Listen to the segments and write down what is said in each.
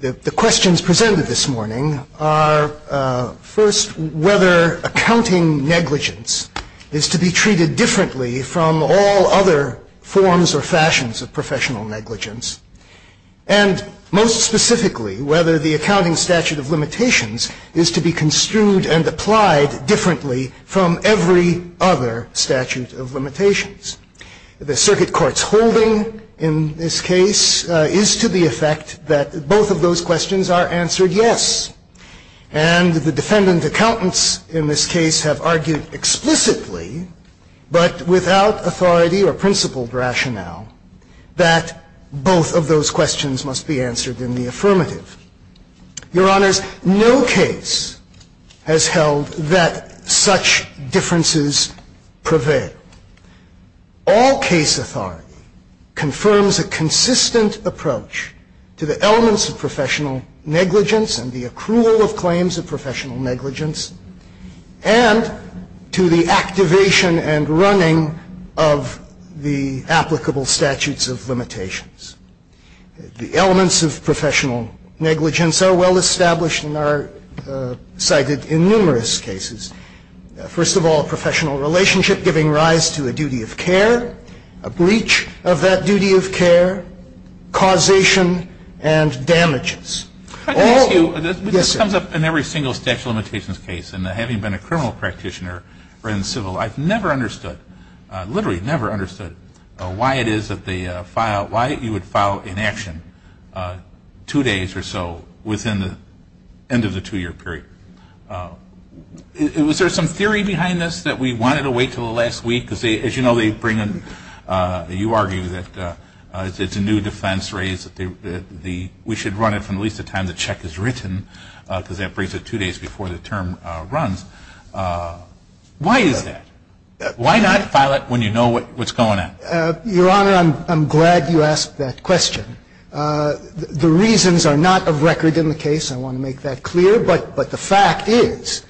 The questions presented this morning are, first, whether accounting negligence is to be treated differently from all other forms or fashions of professional negligence, and, most specifically, whether the accounting statute of limitations is to be construed and applied differently from every other statute of limitations. The circuit court's holding in this case is to the effect that both of those questions are answered yes. And the defendant accountants in this case have argued explicitly, but without authority or principled rationale, that both of those questions must be answered in the affirmative. Your Honors, no case has held that such differences prevail. All case authority confirms a consistent approach to the elements of professional negligence and the accrual of claims of professional negligence, and to the activation and running of the applicable statutes of limitations. The elements of professional negligence are well-established and are cited in numerous cases. First of all, professional relationship giving rise to a duty of care, a breach of that duty of care, causation, and damages. All of them. Yes, sir. It comes up in every single statute of limitations case, and having been a criminal practitioner or in civil life, I've never understood, literally never understood, why it is that you would file inaction two days or so within the end of the two-year period. Was there some theory behind this that we wanted to wait until the last week? Because as you know, you argue that it's a new defense raised that we should run it from at least the time the check is written, because that brings it two days before the term runs. Why is that? Why not file it when you know what's going on? Your Honor, I'm glad you asked that question. The reasons are not of record in the case. I want to make that clear. But the fact is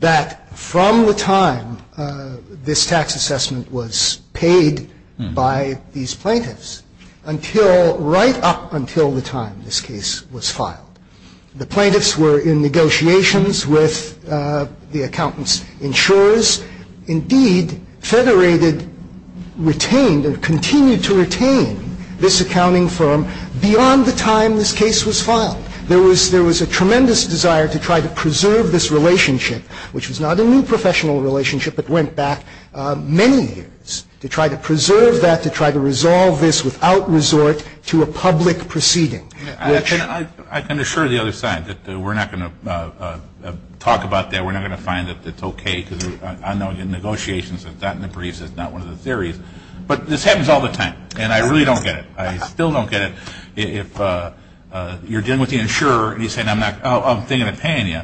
that from the time this tax assessment was paid by these plaintiffs until right up until the time this case was filed, the plaintiffs were in negotiations with the accountant's insurers. Indeed, Federated retained or continued to retain this accounting firm beyond the time this case was filed. There was a tremendous desire to try to preserve this relationship, which was not a new professional relationship, but went back many years, to try to preserve that, to try to resolve this without resort to a public proceeding. I can assure the other side that we're not going to talk about that. We're not going to find that it's okay, because I know in negotiations, it's not in the briefs. It's not one of the theories. But this happens all the time, and I really don't get it. I still don't get it. If you're dealing with the insurer and he's saying, oh, I'm thinking of paying you,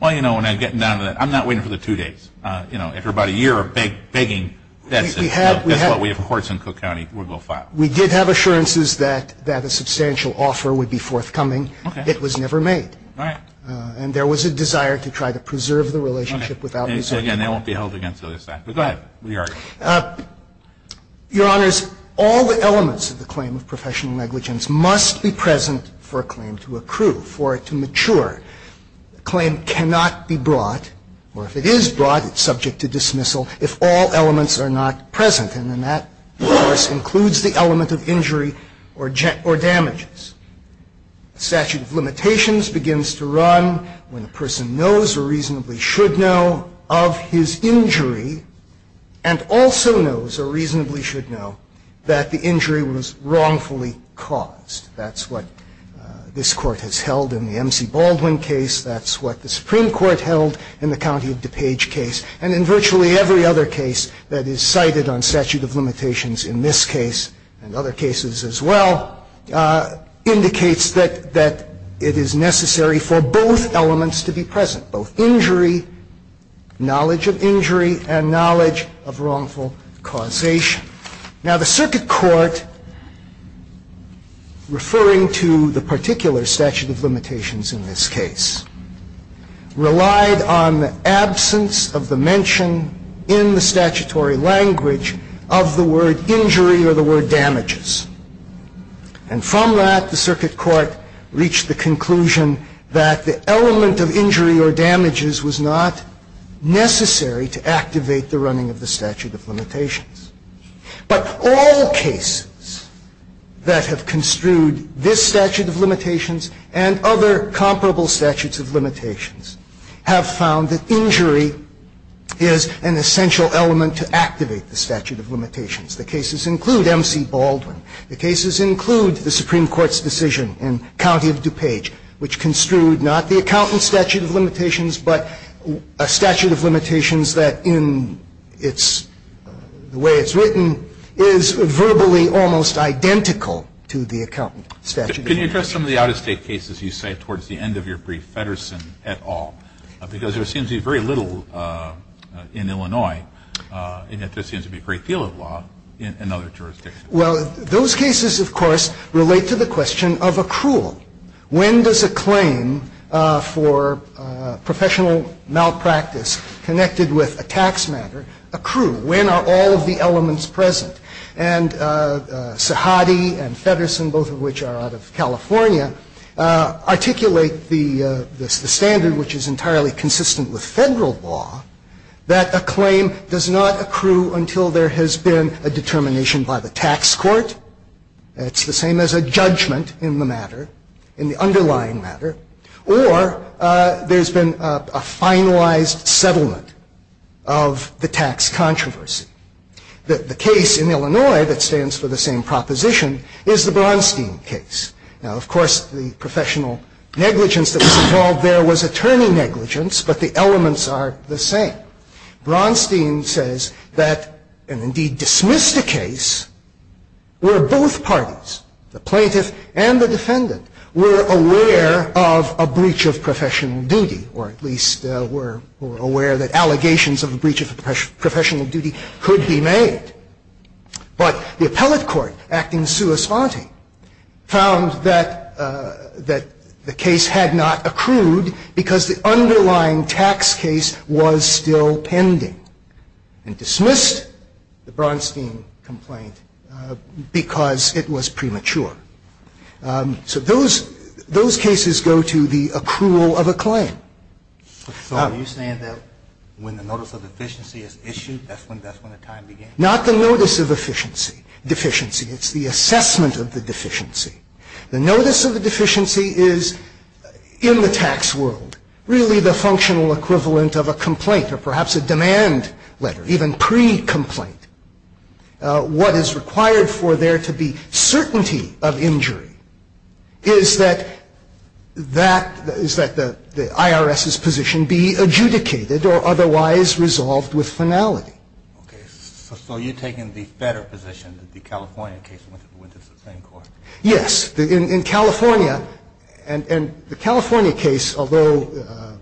well, you know, when I get down to that, I'm not waiting for the two days. You know, after about a year of begging, that's what we have courts in Cook County will go file. We did have assurances that a substantial offer would be forthcoming. Okay. It was never made. Right. And there was a desire to try to preserve the relationship without resorting to public proceeding. Okay. And again, that won't be held against the other side. But go ahead. Re-argue. Your Honors, all the elements of the claim of professional negligence must be present for a claim to accrue, for it to mature. A claim cannot be brought, or if it is brought, it's subject to dismissal, if all elements are not present. And then that, of course, includes the element of injury or damages. A statute of limitations begins to run when a person knows or reasonably should know of his injury, and also knows or reasonably should know that the injury was wrongfully caused. That's what this Court has held in the M.C. Baldwin case. That's what the Supreme Court held in the County of DuPage case. And in virtually every other case that is cited on statute of limitations in this case, and other cases as well, indicates that it is necessary for both elements to be present, both injury, knowledge of injury, and knowledge of wrongful causation. Now, the Circuit Court, referring to the particular statute of limitations in this case, relied on the absence of the mention in the statutory language of the word injury or the word damages. And from that, the Circuit Court reached the conclusion that the element of injury or damages was not necessary to activate the running of the statute of limitations. But all cases that have construed this statute of limitations and other comparable statutes of limitations have found that injury is an essential element to activate the statute of limitations. The cases include M.C. Baldwin. The cases include the Supreme Court's decision in County of DuPage, which construed not the accountant's statute of limitations, but a statute of limitations that, in the way it's written, is verbally almost identical to the accountant's statute of limitations. Can you address some of the out-of-state cases you cite towards the end of your brief, Feddersen et al.? Because there seems to be very little in Illinois, and yet there seems to be a great deal of law in other jurisdictions. Well, those cases, of course, relate to the question of accrual. When does a claim for professional malpractice connected with a tax matter accrue? When are all of the elements present? And Sahady and Feddersen, both of which are out of California, articulate the standard, which is entirely consistent with Federal law, that a claim does not accrue until there has been a determination by the tax court. It's the same as a judgment in the matter, in the underlying matter, or there's been a finalized settlement of the tax controversy. The case in Illinois that stands for the same proposition is the Bronstein case. Now, of course, the professional negligence that was involved there was attorney negligence, but the elements are the same. Bronstein says that, and indeed dismissed the case, where both parties, the plaintiff and the defendant, were aware of a breach of professional duty, or at least were aware that allegations of a breach of professional duty could be made. But the appellate court, acting sua sponte, found that the case had not accrued because the underlying tax case was still pending and dismissed the Bronstein complaint because it was premature. So those cases go to the accrual of a claim. So are you saying that when the notice of deficiency is issued, that's when the time begins? Not the notice of deficiency. It's the assessment of the deficiency. The notice of the deficiency is in the tax world, really the functional equivalent of a complaint or perhaps a demand letter, even pre-complaint. What is required for there to be certainty of injury is that that, is that the IRS's position be adjudicated or otherwise resolved with finality. Okay. So you're taking the better position in the California case when it's the same court? Yes. In California, and the California case, although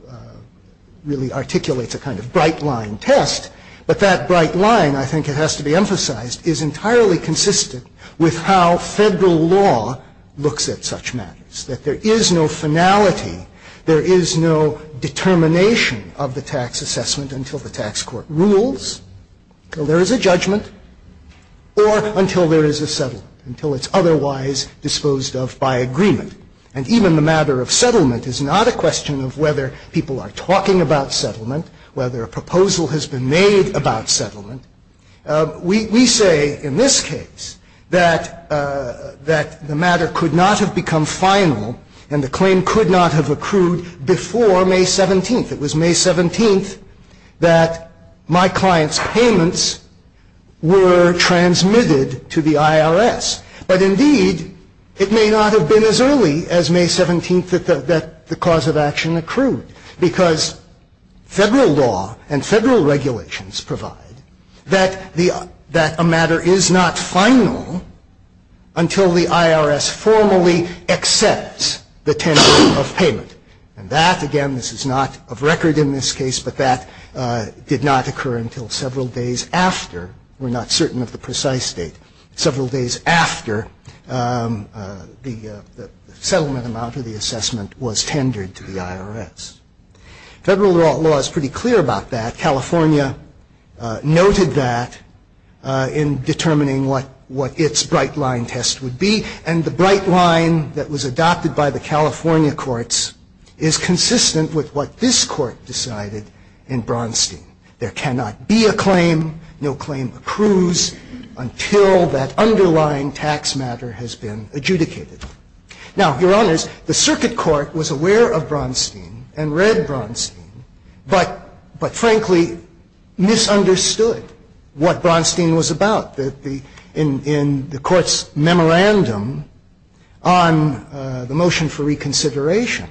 really articulates a kind of bright line test, but that bright line, I think it has to be emphasized, is entirely consistent with how Federal law looks at such matters. That there is no finality, there is no determination of the tax assessment until the tax court rules, until there is a judgment, or until there is a settlement, until it's otherwise disposed of by agreement. And even the matter of settlement is not a question of whether people are talking about settlement, whether a proposal has been made about settlement. We say, in this case, that the matter could not have become final, and the claim could not have accrued before May 17th. It was May 17th that my client's payments were transmitted to the IRS. But indeed, it may not have been as early as May 17th that the cause of action accrued. Because Federal law and Federal regulations provide that a matter is not final until the IRS formally accepts the tender of payment. And that, again, this is not of record in this case, but that did not occur until several days after. We're not certain of the precise date. Several days after the settlement amount of the assessment was tendered to the IRS. Federal law is pretty clear about that. California noted that in determining what its bright line test would be. And the bright line that was adopted by the California courts is consistent with what this Court decided in Braunstein. There cannot be a claim, no claim accrues, until that underlying tax matter has been adjudicated. Now, Your Honors, the Circuit Court was aware of Braunstein and read Braunstein, but frankly, misunderstood what Braunstein was about. In the Court's memorandum on the motion for reconsideration,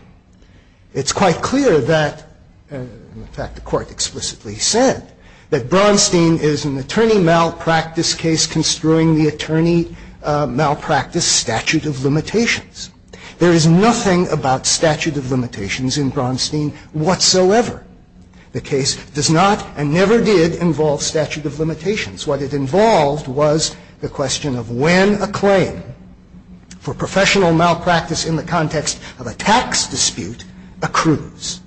it's quite clear that, in fact, the Court explicitly said that Braunstein is an attorney malpractice case construing the attorney malpractice statute of limitations. There is nothing about statute of limitations in Braunstein whatsoever. The case does not and never did involve statute of limitations. What it involved was the question of when a claim for professional malpractice in the context of a tax dispute accrues.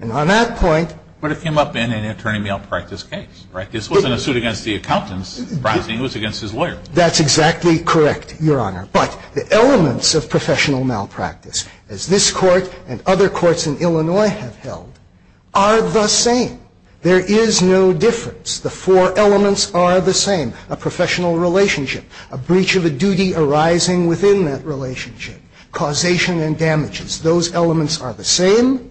And on that point — But it came up in an attorney malpractice case, right? This wasn't a suit against the accountant's brazen. It was against his lawyer. That's exactly correct, Your Honor. But the elements of professional malpractice, as this Court and other courts in Illinois have held, are the same. There is no difference. The four elements are the same. A professional relationship. A breach of a duty arising within that relationship. Causation and damages. Those elements are the same,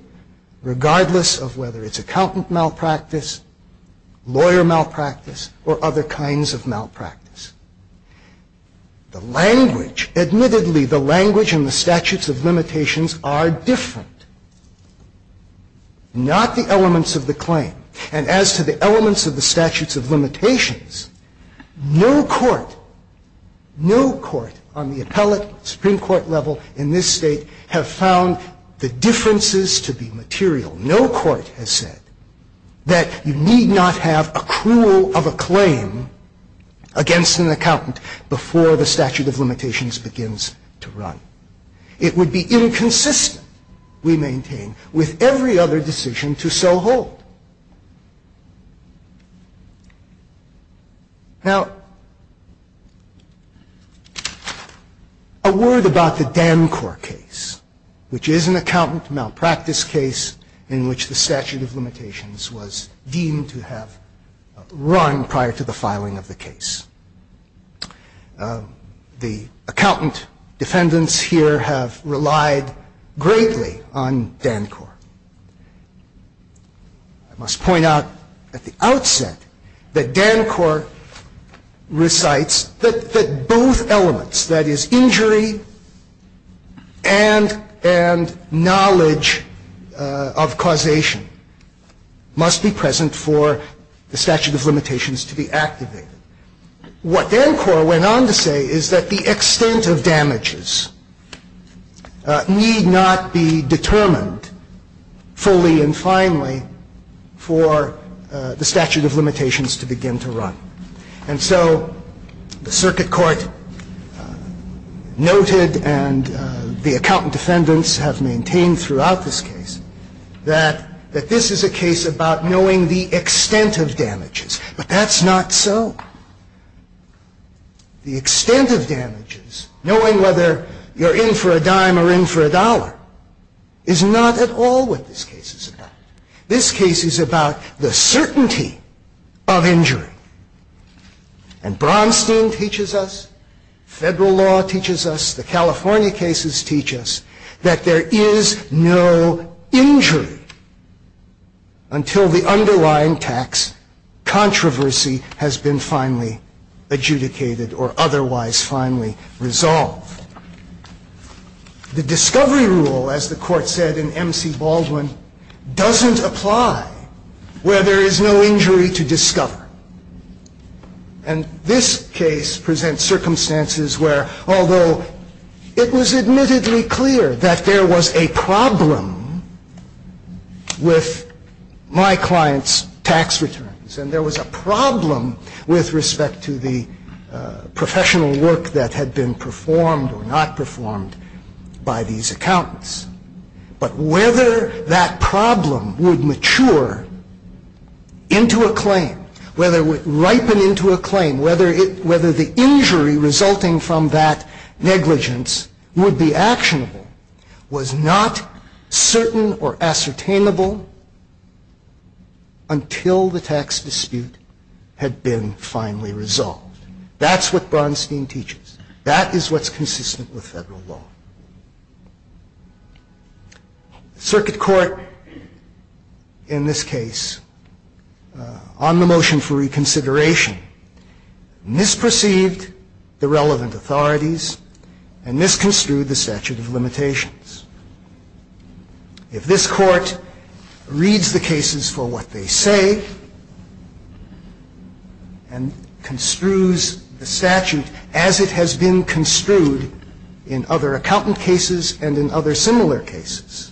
regardless of whether it's accountant malpractice, lawyer malpractice, or other kinds of malpractice. The language — admittedly, the language and the statutes of limitations are different. Not the elements of the claim. And as to the elements of the statutes of limitations, no court — no court on the appellate, Supreme Court level in this State have found the differences to be material. No court has said that you need not have accrual of a claim against an accountant before the statute of limitations begins to run. It would be inconsistent, we maintain, with every other decision to so hold. Now, a word about the Dancor case, which is an accountant malpractice case in which the statute of limitations was deemed to have run prior to the filing of the case. The accountant defendants here have relied greatly on Dancor. I must point out at the outset that Dancor recites that both elements — that is, injury and knowledge of causation — must be present for the statute of limitations to be activated. What Dancor went on to say is that the extent of damages need not be determined fully and finally for the statute of limitations to begin to run. And so the circuit court noted, and the accountant defendants have maintained throughout this case, that this is a case about knowing the extent of damages. But that's not so. The extent of damages, knowing whether you're in for a dime or in for a dollar, is not at all what this case is about. This case is about the certainty of injury. And Bronstein teaches us, federal law teaches us, the California cases teach us, that there is no injury until the underlying tax controversy has been finally adjudicated or otherwise finally resolved. The discovery rule, as the Court said in M.C. Baldwin, doesn't apply where there is no injury to discover. And this case presents circumstances where, although it was admittedly clear that there was a problem with my client's tax returns, and there was a problem with respect to the professional work that had been performed or not performed by these accountants, but whether that problem would mature into a claim, whether it would ripen into a claim, whether the injury resulting from that was not certain or ascertainable until the tax dispute had been finally resolved. That's what Bronstein teaches. That is what's consistent with federal law. Circuit Court, in this case, on the motion for reconsideration, misperceived the relevant authorities and misconstrued the statute of limitations. If this Court reads the cases for what they say and construes the statute as it has been construed in other accountant cases and in other similar cases,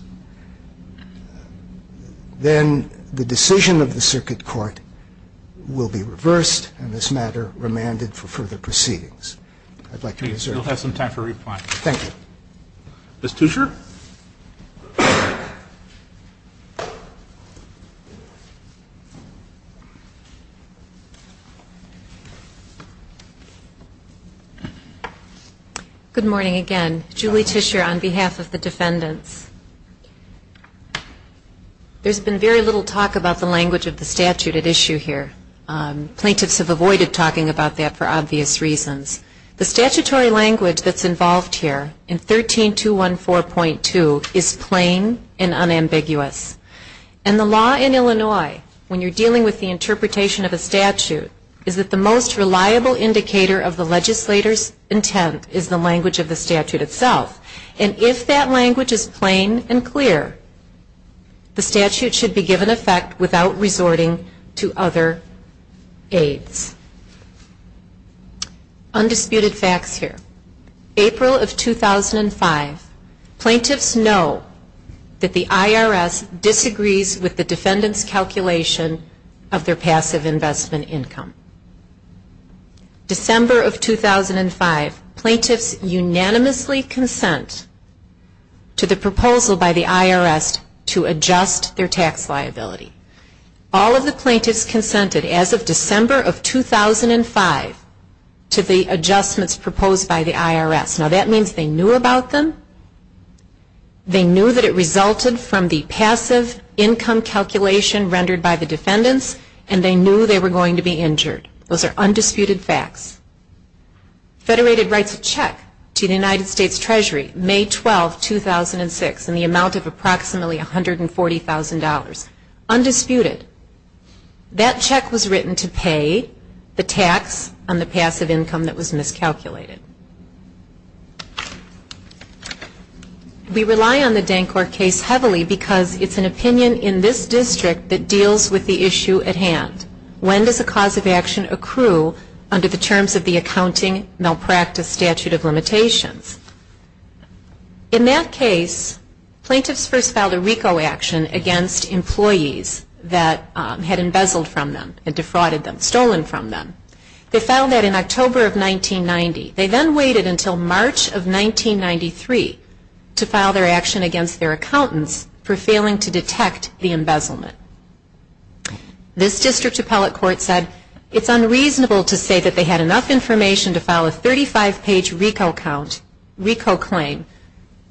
then the decision of the Circuit Court will be reversed and, as a matter, remanded for further proceedings. I'd like to reserve. We'll have some time for replying. Thank you. Ms. Tischer? Good morning again. Julie Tischer on behalf of the defendants. There's been very little talk about the language of the statute at issue here. Plaintiffs have avoided talking about that for obvious reasons. The statutory language that's involved here in 13214.2 is plain and unambiguous. And the law in Illinois, when you're dealing with the interpretation of a statute, is that the most reliable indicator of the legislator's intent is the language of the statute itself. And if that language is plain and clear, the statute should be given effect without resorting to other aides. Undisputed facts here. April of 2005, plaintiffs know that the IRS disagrees with the defendant's calculation of their passive investment income. December of 2005, plaintiffs unanimously consent to the proposal by the IRS to adjust their tax liability. All of the plaintiffs consented, as of December of 2005, to the adjustments proposed by the IRS. Now, that means they knew about them, they knew that it resulted from the passive income calculation rendered by the defendants, and they knew they were going to be injured. Those are undisputed facts. Federated writes a check to the United States Treasury, May 12, 2006, in the amount of approximately $140,000. Undisputed. That check was written to pay the tax on the passive income that was miscalculated. We rely on the Dancor case heavily because it's an opinion in this district that deals with the issue at hand. When does a cause of action accrue under the terms of the accounting malpractice statute of limitations? In that case, plaintiffs first filed a RICO action against employees that had embezzled from them and defrauded them, stolen from them. They filed that in October of 1990. They then waited until March of 1993 to file their action against their accountants for failing to detect the embezzlement. This district appellate court said it's unreasonable to say that they had enough information to file a 35-page RICO claim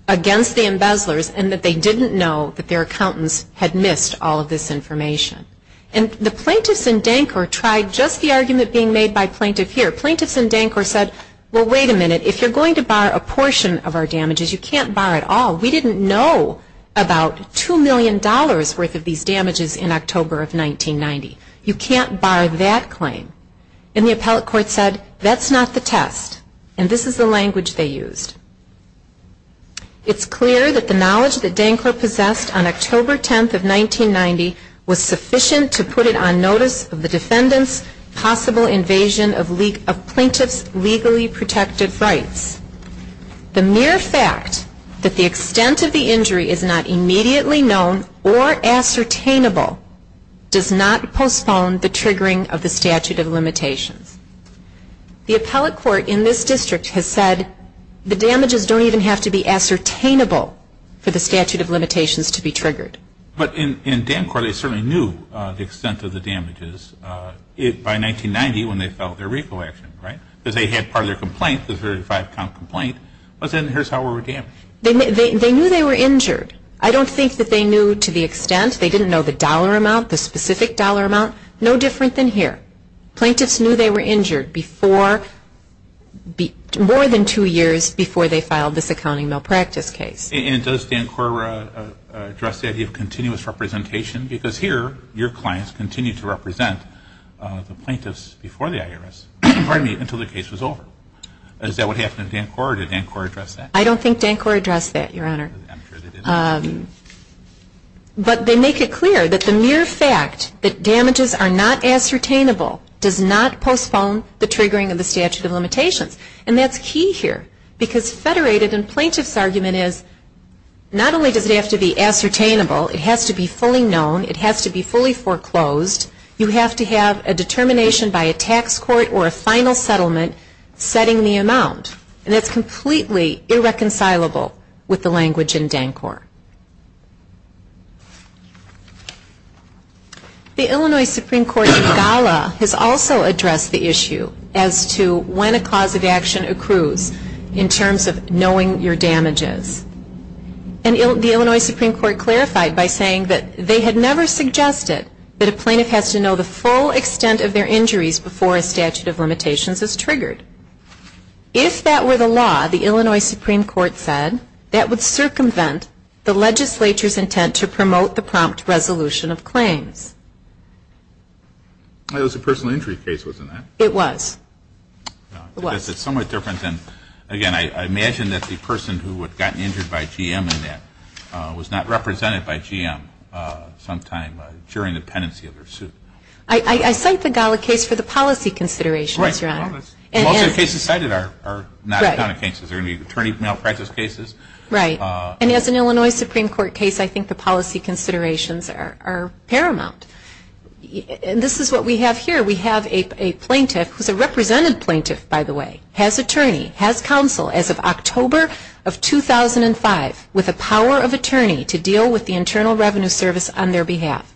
against the embezzlers and that they didn't know that their accountants had missed all of this information. And the plaintiffs in Dancor tried just the argument being made by plaintiff here. Plaintiffs in Dancor said, well, wait a minute, if you're going to bar a portion of our damages, you can't bar it all. We didn't know about $2 million worth of these damages in October of 1990. You can't bar that claim. And the appellate court said, that's not the test. And this is the language they used. It's clear that the knowledge that Dancor possessed on October 10th of 1990 was sufficient to put it on notice of the defendant's possible invasion of plaintiff's legally protected rights. The mere fact that the extent of the injury is not immediately known or ascertainable does not postpone the triggering of the statute of limitations. The appellate court in this district has said the damages don't even have to be ascertainable for the statute of limitations to be triggered. But in Dancor they certainly knew the extent of the damages by 1990 when they filed their RICO action, right? Because they had part of their complaint, the 35-count complaint, but then here's how we were damaged. They knew they were injured. I don't think that they knew to the extent. They didn't know the dollar amount, the specific dollar amount. No different than here. Plaintiffs knew they were injured before, more than two years before they filed this accounting malpractice case. And does Dancor address the idea of continuous representation? Because here your clients continue to represent the plaintiffs before the IRS, pardon me, until the case was over. Is that what happened in Dancor or did Dancor address that? I don't think Dancor addressed that, Your Honor. I'm sure they didn't. But they make it clear that the mere fact that damages are not ascertainable does not postpone the triggering of the statute of limitations. And that's key here. Because federated and plaintiff's argument is not only does it have to be ascertainable, it has to be fully known, it has to be fully foreclosed. You have to have a determination by a tax court or a final settlement setting the amount. And it's completely irreconcilable with the language in Dancor. The Illinois Supreme Court in Gala has also addressed the issue as to when a cause of action accrues in terms of knowing your damages. And the Illinois Supreme Court clarified by saying that they had never suggested that a plaintiff has to know the full extent of their injuries before a statute of limitations is triggered. If that were the law, the Illinois Supreme Court said, that would circumvent the legislature's intent to promote the prompt resolution of claims. It was a personal injury case, wasn't it? It was. It's somewhat different than, again, I imagine that the person who had gotten injured by GM in that was not represented by GM sometime during the pendency of their suit. I cite the Gala case for the policy considerations, Your Honor. Most of the cases cited are not accounting cases. They're attorney malpractice cases. Right. And as an Illinois Supreme Court case, I think the policy considerations are paramount. And this is what we have here. We have a plaintiff, who's a represented plaintiff, by the way, has attorney, has counsel as of October of 2005, with the power of attorney to deal with the Internal Revenue Service on their behalf.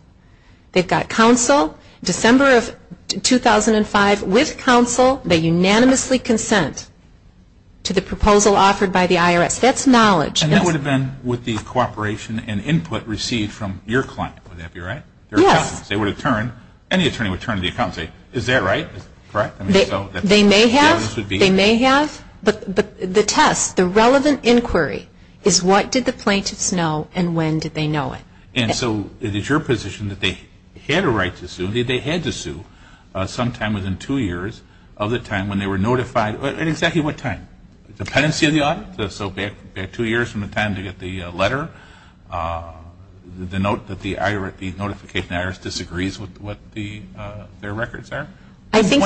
They've got counsel. December of 2005, with counsel, they unanimously consent to the proposal offered by the IRS. That's knowledge. And that would have been with the cooperation and input received from your client. Would that be right? Yes. They would have turned, any attorney would turn to the accountant and say, is that right? They may have. They may have. But the test, the relevant inquiry, is what did the plaintiffs know and when did they know it? And so, it is your position that they had a right to sue, that they had to sue sometime within two years of the time when they were notified. At exactly what time? Dependency of the audit? So back two years from the time they get the letter? The note that the notification of IRS disagrees with what their records are? I think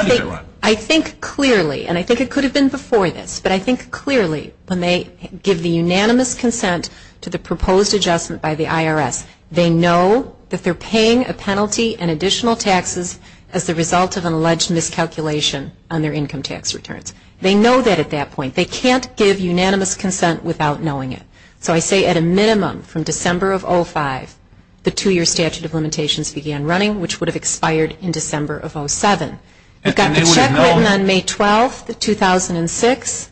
clearly, and I think it could have been before this, but I think clearly when they give the unanimous consent to the proposed adjustment by the IRS, they know that they're paying a penalty and additional taxes as a result of an alleged miscalculation on their income tax returns. They know that at that point. They can't give unanimous consent without knowing it. So I say at a minimum from December of 2005, the two-year statute of limitations began running, which would have expired in December of 2007. We've got the check written on May 12, 2006.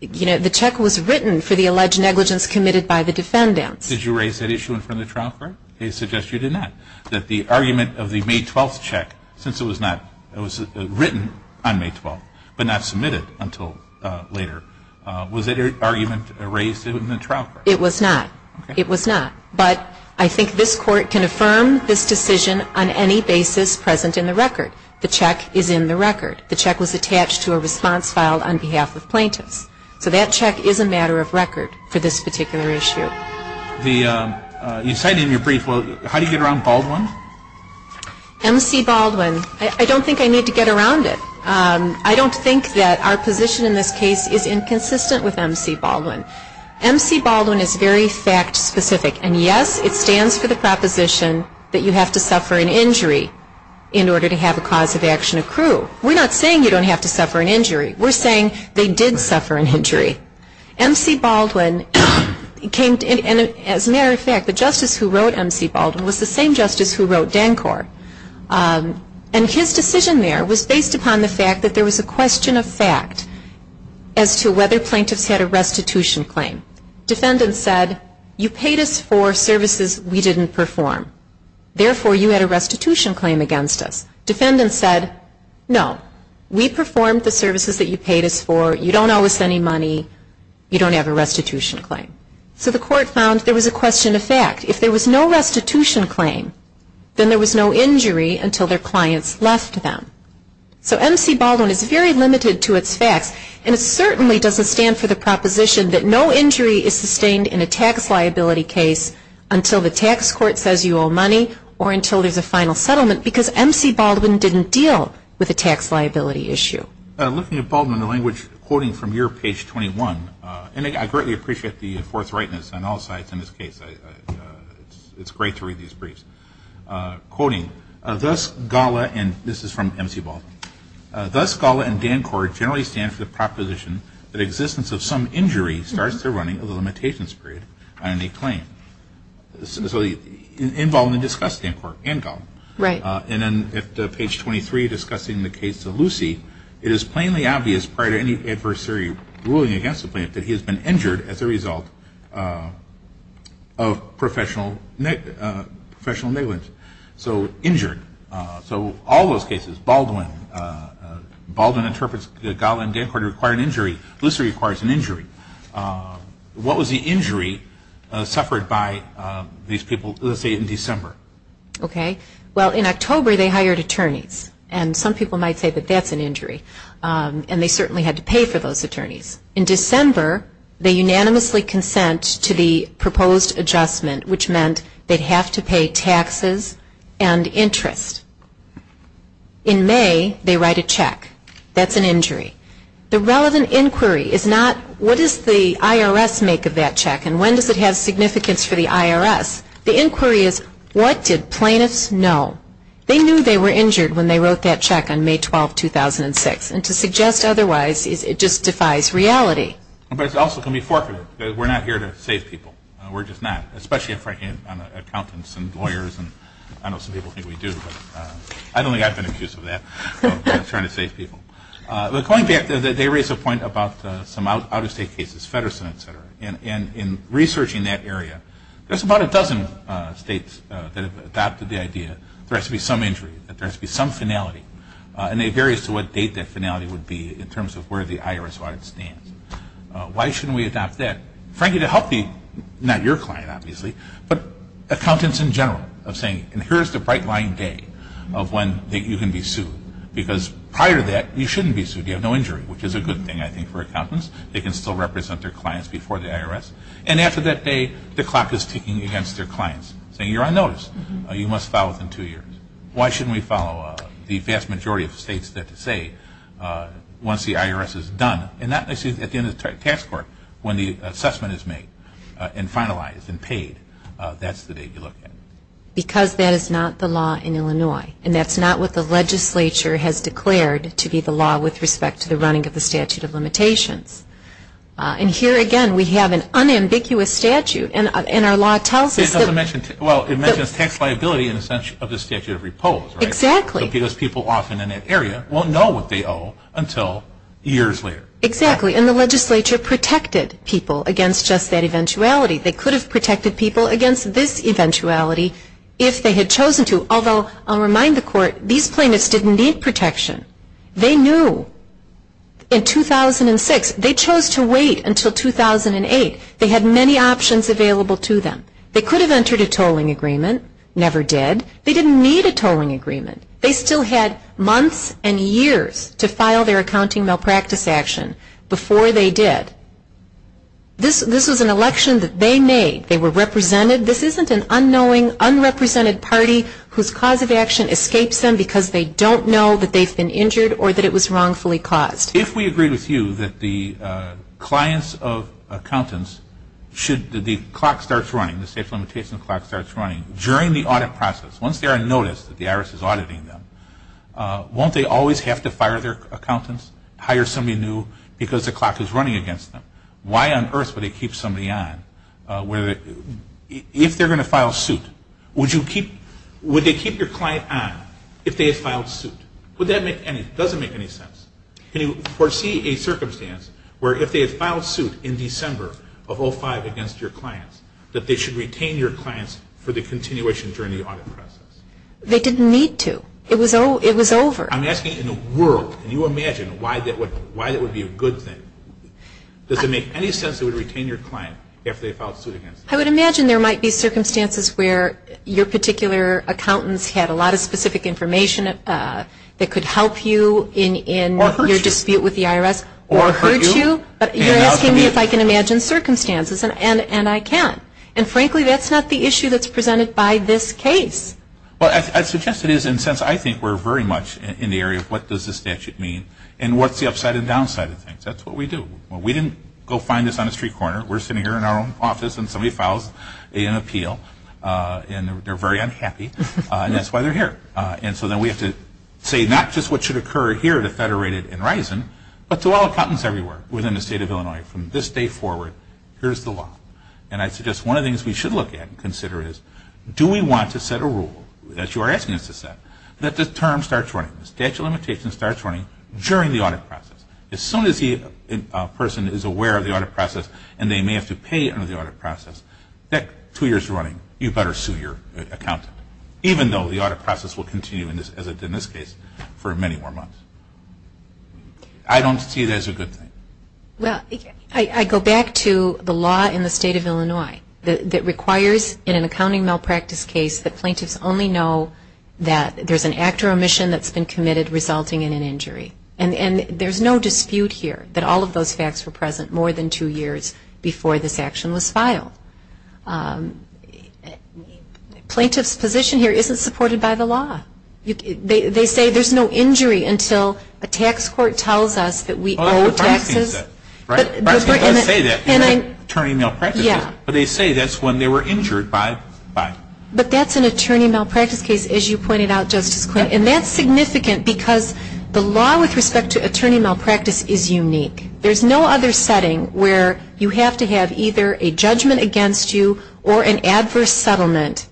The check was written for the alleged negligence committed by the defendants. Did you raise that issue in front of the trial court? They suggest you did not. That the argument of the May 12th check, since it was written on May 12th but not submitted until later, was it an argument raised in the trial court? It was not. It was not. But I think this Court can affirm this decision on any basis present in the record. The check is in the record. The check was attached to a response filed on behalf of plaintiffs. So that check is a matter of record for this particular issue. You said in your brief, well, how do you get around Baldwin? M.C. Baldwin, I don't think I need to get around it. I don't think that our position in this case is inconsistent with M.C. Baldwin. M.C. Baldwin is very fact specific. And, yes, it stands for the proposition that you have to suffer an injury in order to have a cause of action accrue. We're not saying you don't have to suffer an injury. We're saying they did suffer an injury. M.C. Baldwin came to, and as a matter of fact, the justice who wrote M.C. Baldwin was the same justice who wrote Dancor. And his decision there was based upon the fact that there was a question of fact as to whether plaintiffs had a restitution claim. Defendants said, you paid us for services we didn't perform. Therefore, you had a restitution claim against us. Defendants said, no, we performed the services that you paid us for. You don't owe us any money. You don't have a restitution claim. So the court found there was a question of fact. If there was no restitution claim, then there was no injury until their clients left them. So M.C. Baldwin is very limited to its facts. And it certainly doesn't stand for the proposition that no injury is sustained in a tax liability case until the tax court says you owe money or until there's a final settlement, because M.C. Baldwin didn't deal with a tax liability issue. Looking at Baldwin, the language, quoting from your page 21, and I greatly appreciate the forthrightness on all sides in this case. It's great to read these briefs. Quoting, thus Gala, and this is from M.C. Baldwin, thus Gala and Dancort generally stand for the proposition that existence of some injury starts the running of the limitations period on any claim. So involve and discuss Dancort and Gala. Right. And then at page 23, discussing the case to Lucy, it is plainly obvious prior to any adversary ruling against the plaintiff that he has been injured as a result of professional negligence. So injured. So all those cases, Baldwin, Baldwin interprets Gala and Dancort require an injury. Lucy requires an injury. What was the injury suffered by these people, let's say, in December? Okay. Well, in October they hired attorneys. And some people might say that that's an injury. And they certainly had to pay for those attorneys. In December, they unanimously consent to the proposed adjustment, which meant they'd have to pay taxes and interest. In May, they write a check. That's an injury. The relevant inquiry is not what does the IRS make of that check and when does it have significance for the IRS. The inquiry is what did plaintiffs know? They knew they were injured when they wrote that check on May 12, 2006. And to suggest otherwise just defies reality. But it's also going to be forfeited because we're not here to save people. We're just not, especially, frankly, accountants and lawyers. I know some people think we do. I don't think I've been accused of that, trying to save people. But going back, they raise a point about some out-of-state cases, Feddersen, et cetera. And in researching that area, there's about a dozen states that have adopted the idea that there has to be some injury, that there has to be some finality. And it varies to what date that finality would be in terms of where the IRS audit stands. Why shouldn't we adopt that? Frankly, to help not your client, obviously, but accountants in general of saying, and here's the bright line day of when you can be sued. Because prior to that, you shouldn't be sued. You have no injury, which is a good thing, I think, for accountants. They can still represent their clients before the IRS. And after that day, the clock is ticking against their clients, saying you're on notice. You must file within two years. Why shouldn't we follow the vast majority of states that say once the IRS is done, and not necessarily at the end of the tax court when the assessment is made and finalized and paid, that's the date you look at. Because that is not the law in Illinois, and that's not what the legislature has declared to be the law with respect to the running of the statute of limitations. And here, again, we have an unambiguous statute, and our law tells us that. Well, it mentions tax liability in the sense of the statute of repose, right? Exactly. Because people often in that area won't know what they owe until years later. Exactly. And the legislature protected people against just that eventuality. They could have protected people against this eventuality if they had chosen to. Although, I'll remind the court, these plaintiffs didn't need protection. They knew. In 2006, they chose to wait until 2008. They had many options available to them. They could have entered a tolling agreement. Never did. They didn't need a tolling agreement. They still had months and years to file their accounting malpractice action before they did. This was an election that they made. They were represented. This isn't an unknowing, unrepresented party whose cause of action escapes them because they don't know that they've been injured or that it was wrongfully caused. If we agree with you that the clients of accountants, should the clock start running, starts running during the audit process, once they are noticed that the IRS is auditing them, won't they always have to fire their accountants, hire somebody new, because the clock is running against them? Why on earth would they keep somebody on if they're going to file suit? Would they keep your client on if they had filed suit? Does that make any sense? Can you foresee a circumstance where if they had filed suit in December of 05 against your clients, that they should retain your clients for the continuation during the audit process? They didn't need to. It was over. I'm asking in the world. Can you imagine why that would be a good thing? Does it make any sense they would retain your client if they filed suit against you? I would imagine there might be circumstances where your particular accountants had a lot of specific information that could help you in your dispute with the IRS or hurt you. You're asking me if I can imagine circumstances, and I can't. And frankly, that's not the issue that's presented by this case. Well, I suggest it is, and since I think we're very much in the area of what does the statute mean and what's the upside and downside of things. That's what we do. We didn't go find this on a street corner. We're sitting here in our own office, and somebody files an appeal, and they're very unhappy, and that's why they're here. And so then we have to say not just what should occur here at a federated and RISIN, but to all accountants everywhere within the state of Illinois from this day forward, here's the law. And I suggest one of the things we should look at and consider is do we want to set a rule, that you are asking us to set, that the term starts running, the statute of limitations starts running during the audit process. As soon as a person is aware of the audit process and they may have to pay under the audit process, that two years running, you better sue your accountant, even though the audit process will continue in this case for many more months. I don't see it as a good thing. Well, I go back to the law in the state of Illinois that requires in an accounting malpractice case that plaintiffs only know that there's an act or omission that's been committed resulting in an injury. And there's no dispute here that all of those facts were present more than two years before this action was filed. Plaintiff's position here isn't supported by the law. They say there's no injury until a tax court tells us that we owe taxes. But they say that's when they were injured by. But that's an attorney malpractice case, as you pointed out, Justice Quinn. And that's significant because the law with respect to attorney malpractice is unique. There's no other setting where you have to have either a judgment against you or an adverse settlement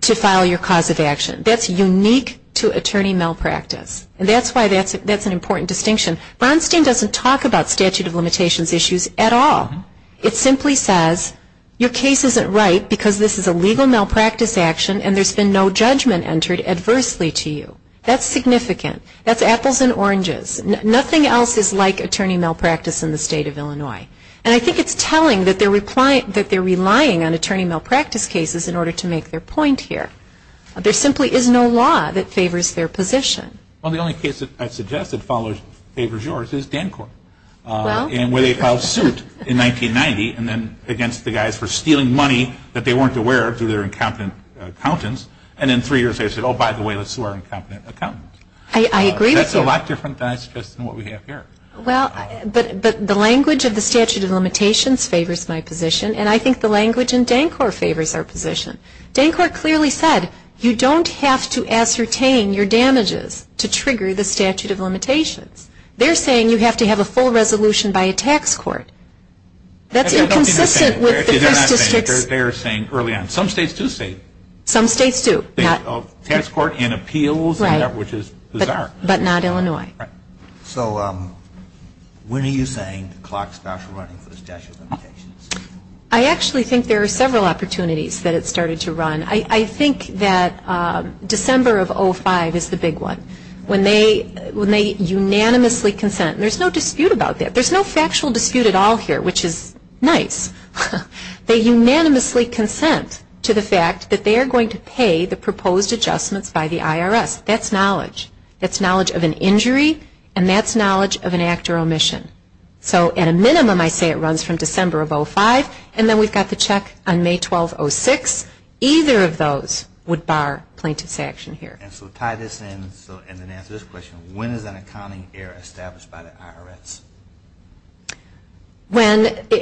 to file your cause of action. That's unique to attorney malpractice. And that's why that's an important distinction. Bronstein doesn't talk about statute of limitations issues at all. It simply says your case isn't right because this is a legal malpractice action and there's been no judgment entered adversely to you. That's significant. That's apples and oranges. Nothing else is like attorney malpractice in the state of Illinois. And I think it's telling that they're relying on attorney malpractice cases in order to make their point here. There simply is no law that favors their position. Well, the only case that I suggest that favors yours is Dancort. Well. And where they filed suit in 1990 and then against the guys for stealing money that they weren't aware of through their incompetent accountants. And in three years they said, oh, by the way, let's sue our incompetent accountants. I agree with you. That's a lot different than I suggest than what we have here. Well, but the language of the statute of limitations favors my position and I think the language in Dancort favors our position. Dancort clearly said you don't have to ascertain your damages to trigger the statute of limitations. They're saying you have to have a full resolution by a tax court. That's inconsistent with the first district's. They're saying early on. Some states do say. Some states do. Tax court and appeals. Right. Which is bizarre. But not Illinois. Right. So when are you saying the clock starts running for the statute of limitations? I actually think there are several opportunities that it started to run. I think that December of 2005 is the big one when they unanimously consent. There's no dispute about that. There's no factual dispute at all here, which is nice. They unanimously consent to the fact that they are going to pay the proposed adjustments by the IRS. That's knowledge. That's knowledge of an injury and that's knowledge of an act or omission. So at a minimum I say it runs from December of 2005 and then we've got the check on May 12, 2006. Either of those would bar plaintiff's action here. And so to tie this in and answer this question, when is an accounting error established by the IRS?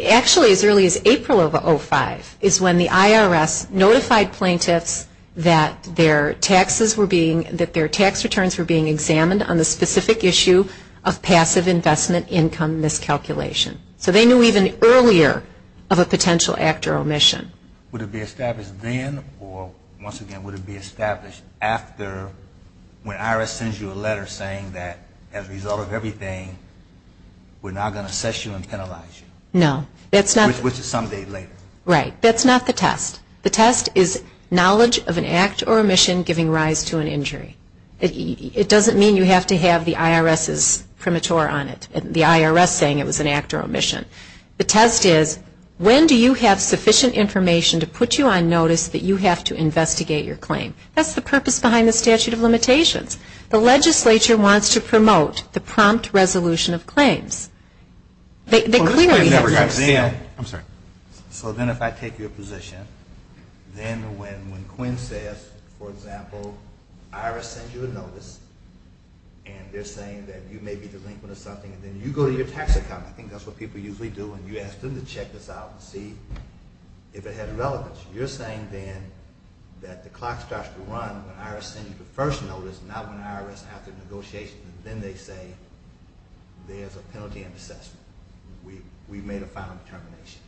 Actually as early as April of 2005 is when the IRS notified plaintiffs that their tax returns were being examined on the specific issue of passive investment income miscalculation. So they knew even earlier of a potential act or omission. Would it be established then or, once again, would it be established after when IRS sends you a letter saying that as a plaintiff we're now going to assess you and penalize you? No. Which is some day later. Right. That's not the test. The test is knowledge of an act or omission giving rise to an injury. It doesn't mean you have to have the IRS's premature on it, the IRS saying it was an act or omission. The test is when do you have sufficient information to put you on notice that you have to investigate your claim? That's the purpose behind the statute of limitations. The legislature wants to promote the prompt resolution of claims. They clearly have this. I'm sorry. So then if I take your position, then when Quinn says, for example, IRS sends you a notice and they're saying that you may be delinquent or something and then you go to your tax account, I think that's what people usually do, and you ask them to check this out and see if it had relevance. You're saying then that the clock starts to run when IRS sends you the first notice, not when IRS has the negotiations, and then they say there's a penalty in the assessment. We've made a final determination.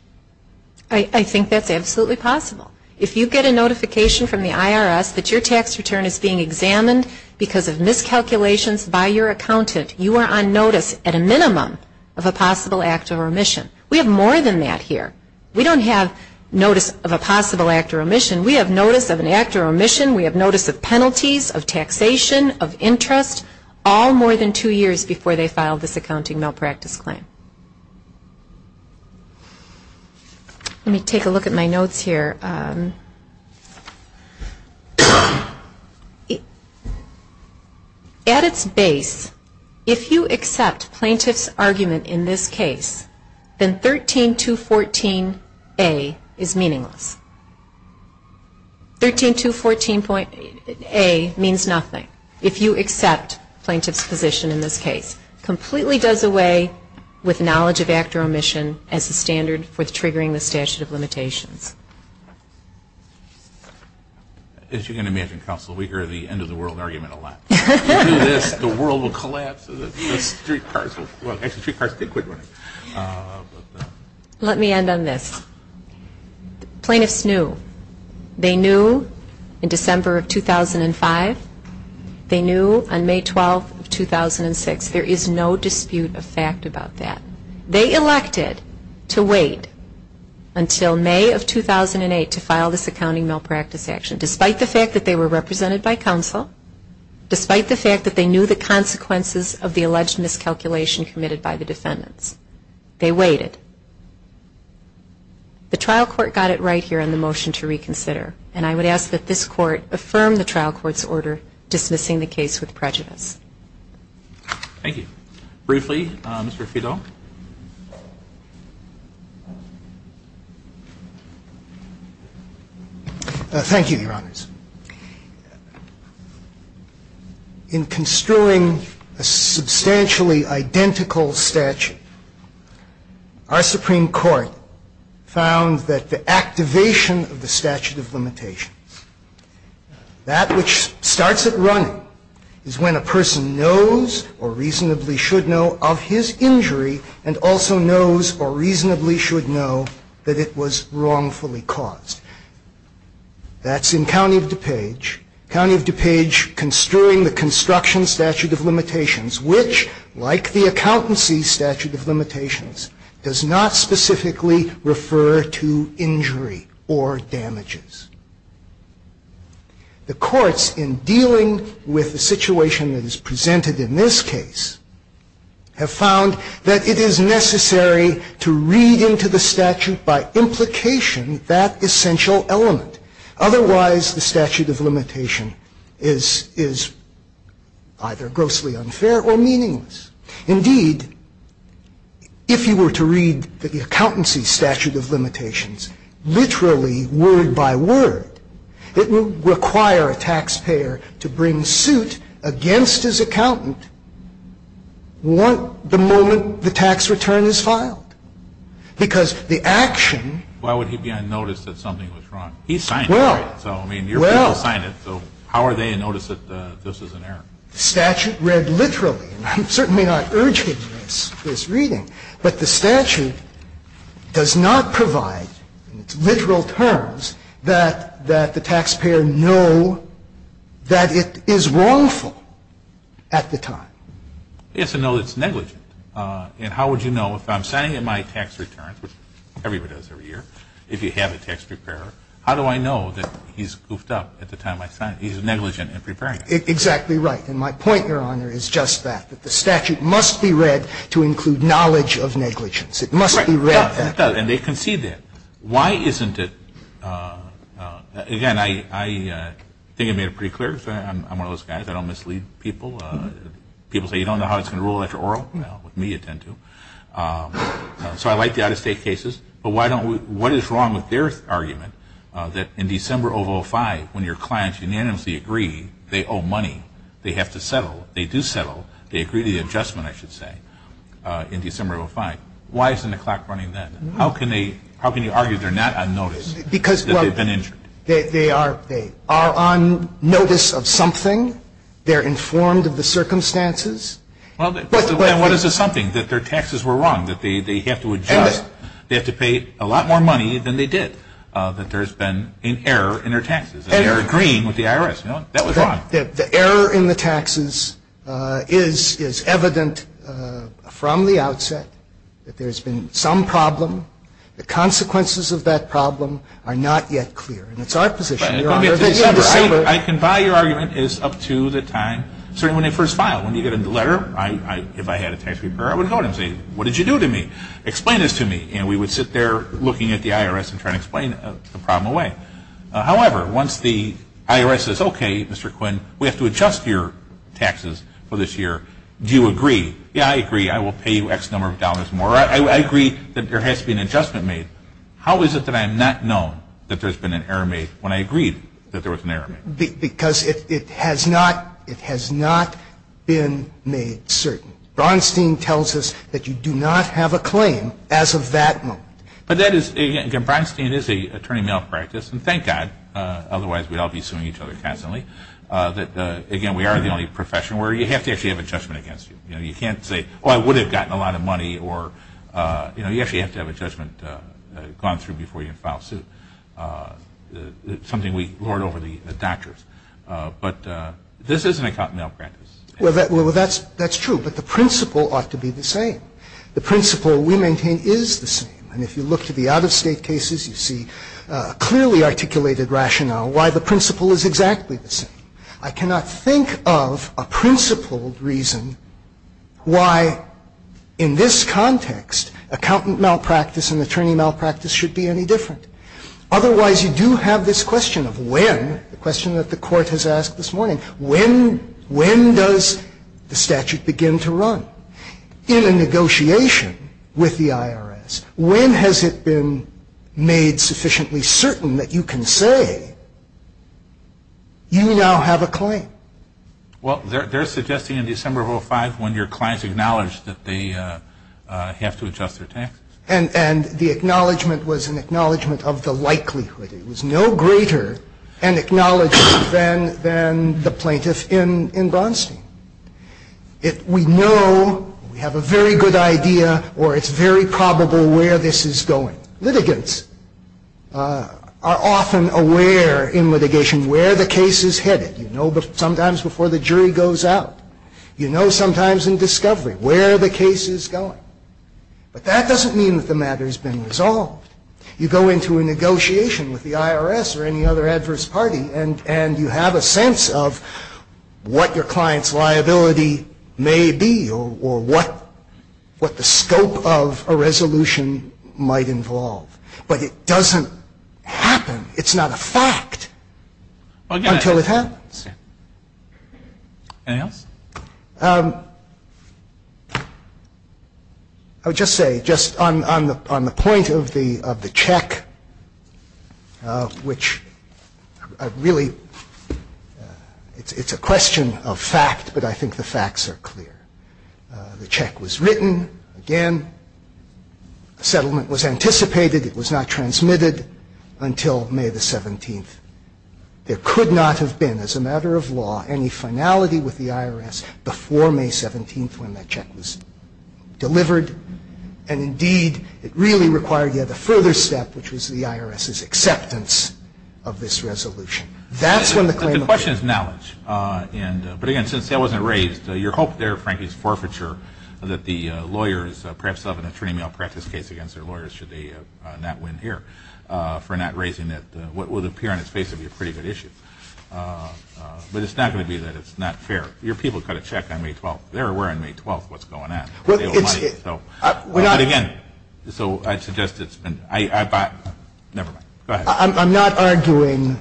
I think that's absolutely possible. If you get a notification from the IRS that your tax return is being examined because of miscalculations by your accountant, you are on notice at a minimum of a possible act or omission. We have more than that here. We don't have notice of a possible act or omission. We have notice of an act or omission. We have notice of penalties, of taxation, of interest, all more than two years before they filed this accounting malpractice claim. Let me take a look at my notes here. At its base, if you accept plaintiff's argument in this case, then 13214A is meaningless. 13214A means nothing if you accept plaintiff's position in this case. It completely does away with knowledge of act or omission as the standard for triggering the statute of limitations. As you can imagine, Counsel, we hear the end of the world argument a lot. If you do this, the world will collapse. The streetcars will quit running. Let me end on this. Plaintiffs knew. They knew in December of 2005. They knew on May 12, 2006. There is no dispute of fact about that. They elected to wait until May of 2008 to file this accounting malpractice action, despite the fact that they were represented by Counsel, despite the fact that they knew the consequences of the alleged miscalculation committed by the defendants. They waited. The trial court got it right here in the motion to reconsider, and I would ask that this court affirm the trial court's order dismissing the case with prejudice. Thank you. Thank you, Your Honors. In construing a substantially identical statute, our Supreme Court found that the activation of the statute of limitations, that which starts it running, is when a person knows or reasonably should know of his injury and also knows or reasonably should know that it was wrongfully caused. That's in County of DuPage. County of DuPage construing the construction statute of limitations, which, like the accountancy statute of limitations, does not specifically refer to injury or damages. The courts, in dealing with the situation that is presented in this case, have found that it is necessary to read into the statute by implication that essential element. Otherwise, the statute of limitation is either grossly unfair or meaningless. Indeed, if you were to read the accountancy statute of limitations literally word by word, it would require a taxpayer to bring suit against his accountant the moment the tax return is filed, because the action Why would he be unnoticed that something was wrong? He signed it, right? So, I mean, your people signed it, so how are they to notice that this is an error? The statute read literally, and I'm certainly not urging this reading, but the statute does not provide, in its literal terms, that the taxpayer know that it is wrongful at the time. Yes, and no, it's negligent. And how would you know? If I'm signing my tax returns, which everybody does every year, if you have a tax preparer, how do I know that he's goofed up at the time I sign it? He's negligent in preparing it. Exactly right. And my point, Your Honor, is just that. That the statute must be read to include knowledge of negligence. It must be read. And they concede that. Why isn't it? Again, I think I made it pretty clear. I'm one of those guys. I don't mislead people. People say, you don't know how it's going to roll after oral. Well, with me, you tend to. So I like the out-of-state cases. But what is wrong with their argument that in December of 2005, when your clients unanimously agree they owe money, they have to settle, they do settle, they agree to the adjustment, I should say, in December of 2005? Why isn't the clock running then? How can you argue they're not on notice that they've been injured? They are on notice of something. They're informed of the circumstances. Well, then what is the something that their taxes were wrong, that they have to adjust, they have to pay a lot more money than they did, that there's been an error in their taxes. And they're agreeing with the IRS. That was wrong. The error in the taxes is evident from the outset that there's been some problem. The consequences of that problem are not yet clear. And it's our position, Your Honor, that in December. I can buy your argument is up to the time, certainly when they first file. When you get a letter, if I had a tax repair, I would go to them and say, what did you do to me? Explain this to me. And we would sit there looking at the IRS and try to explain the problem away. However, once the IRS says, okay, Mr. Quinn, we have to adjust your taxes for this year, do you agree? Yeah, I agree. I will pay you X number of dollars more. I agree that there has to be an adjustment made. How is it that I'm not known that there's been an error made when I agreed that there was an error made? Because it has not been made certain. Bronstein tells us that you do not have a claim as of that moment. But that is, again, Bronstein is an attorney malpractice, and thank God, otherwise we'd all be suing each other constantly. Again, we are the only profession where you have to actually have a judgment against you. You can't say, oh, I would have gotten a lot of money, or you actually have to have a judgment gone through before you can file a suit. It's something we lord over the doctors. But this isn't a cotton malpractice. Well, that's true. But the principle ought to be the same. The principle we maintain is the same. And if you look to the out-of-state cases, you see clearly articulated rationale why the principle is exactly the same. I cannot think of a principled reason why, in this context, accountant malpractice and attorney malpractice should be any different. Otherwise, you do have this question of when, the question that the Court has asked this morning, when does the statute begin to run? In a negotiation with the IRS, when has it been made sufficiently certain that you can say, you now have a claim? Well, they're suggesting in December of 2005 when your clients acknowledged that they have to adjust their taxes. And the acknowledgment was an acknowledgment of the likelihood. It was no greater an acknowledgment than the plaintiff in Bronstein. We know, we have a very good idea, or it's very probable where this is going. Litigants are often aware in litigation where the case is headed. You know sometimes before the jury goes out. You know sometimes in discovery where the case is going. But that doesn't mean that the matter has been resolved. You go into a negotiation with the IRS or any other adverse party, and you have a sense of what your client's liability may be or what the scope of a resolution might involve. But it doesn't happen. It's not a fact until it happens. Anything else? I would just say, just on the point of the check, which really it's a question of fact, but I think the facts are clear. The check was written again. The settlement was anticipated. It was not transmitted until May the 17th. There could not have been, as a matter of law, any finality with the IRS before May 17th when that check was delivered. And indeed, it really required yet a further step, which was the IRS's acceptance of this resolution. The question is knowledge. But, again, since that wasn't raised, your hope there, frankly, is forfeiture that the lawyers perhaps have an attorney malpractice case against their lawyers should they not win here for not raising that, what would appear on its face to be a pretty good issue. But it's not going to be that it's not fair. Your people got a check on May 12th. They're aware on May 12th what's going on. But, again, so I'd suggest it's been – never mind. I'm not arguing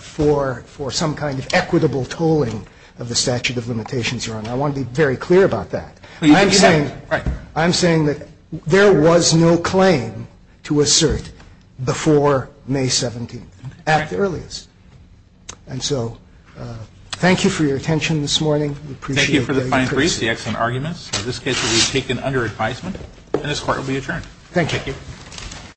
for some kind of equitable tolling of the statute of limitations, Your Honor. I want to be very clear about that. I'm saying that there was no claim to assert before May 17th at the earliest. And so thank you for your attention this morning. We appreciate it. Thank you for the fine brief, the excellent arguments. In this case, it will be taken under advisement, and this Court will be adjourned. Thank you. Thank you.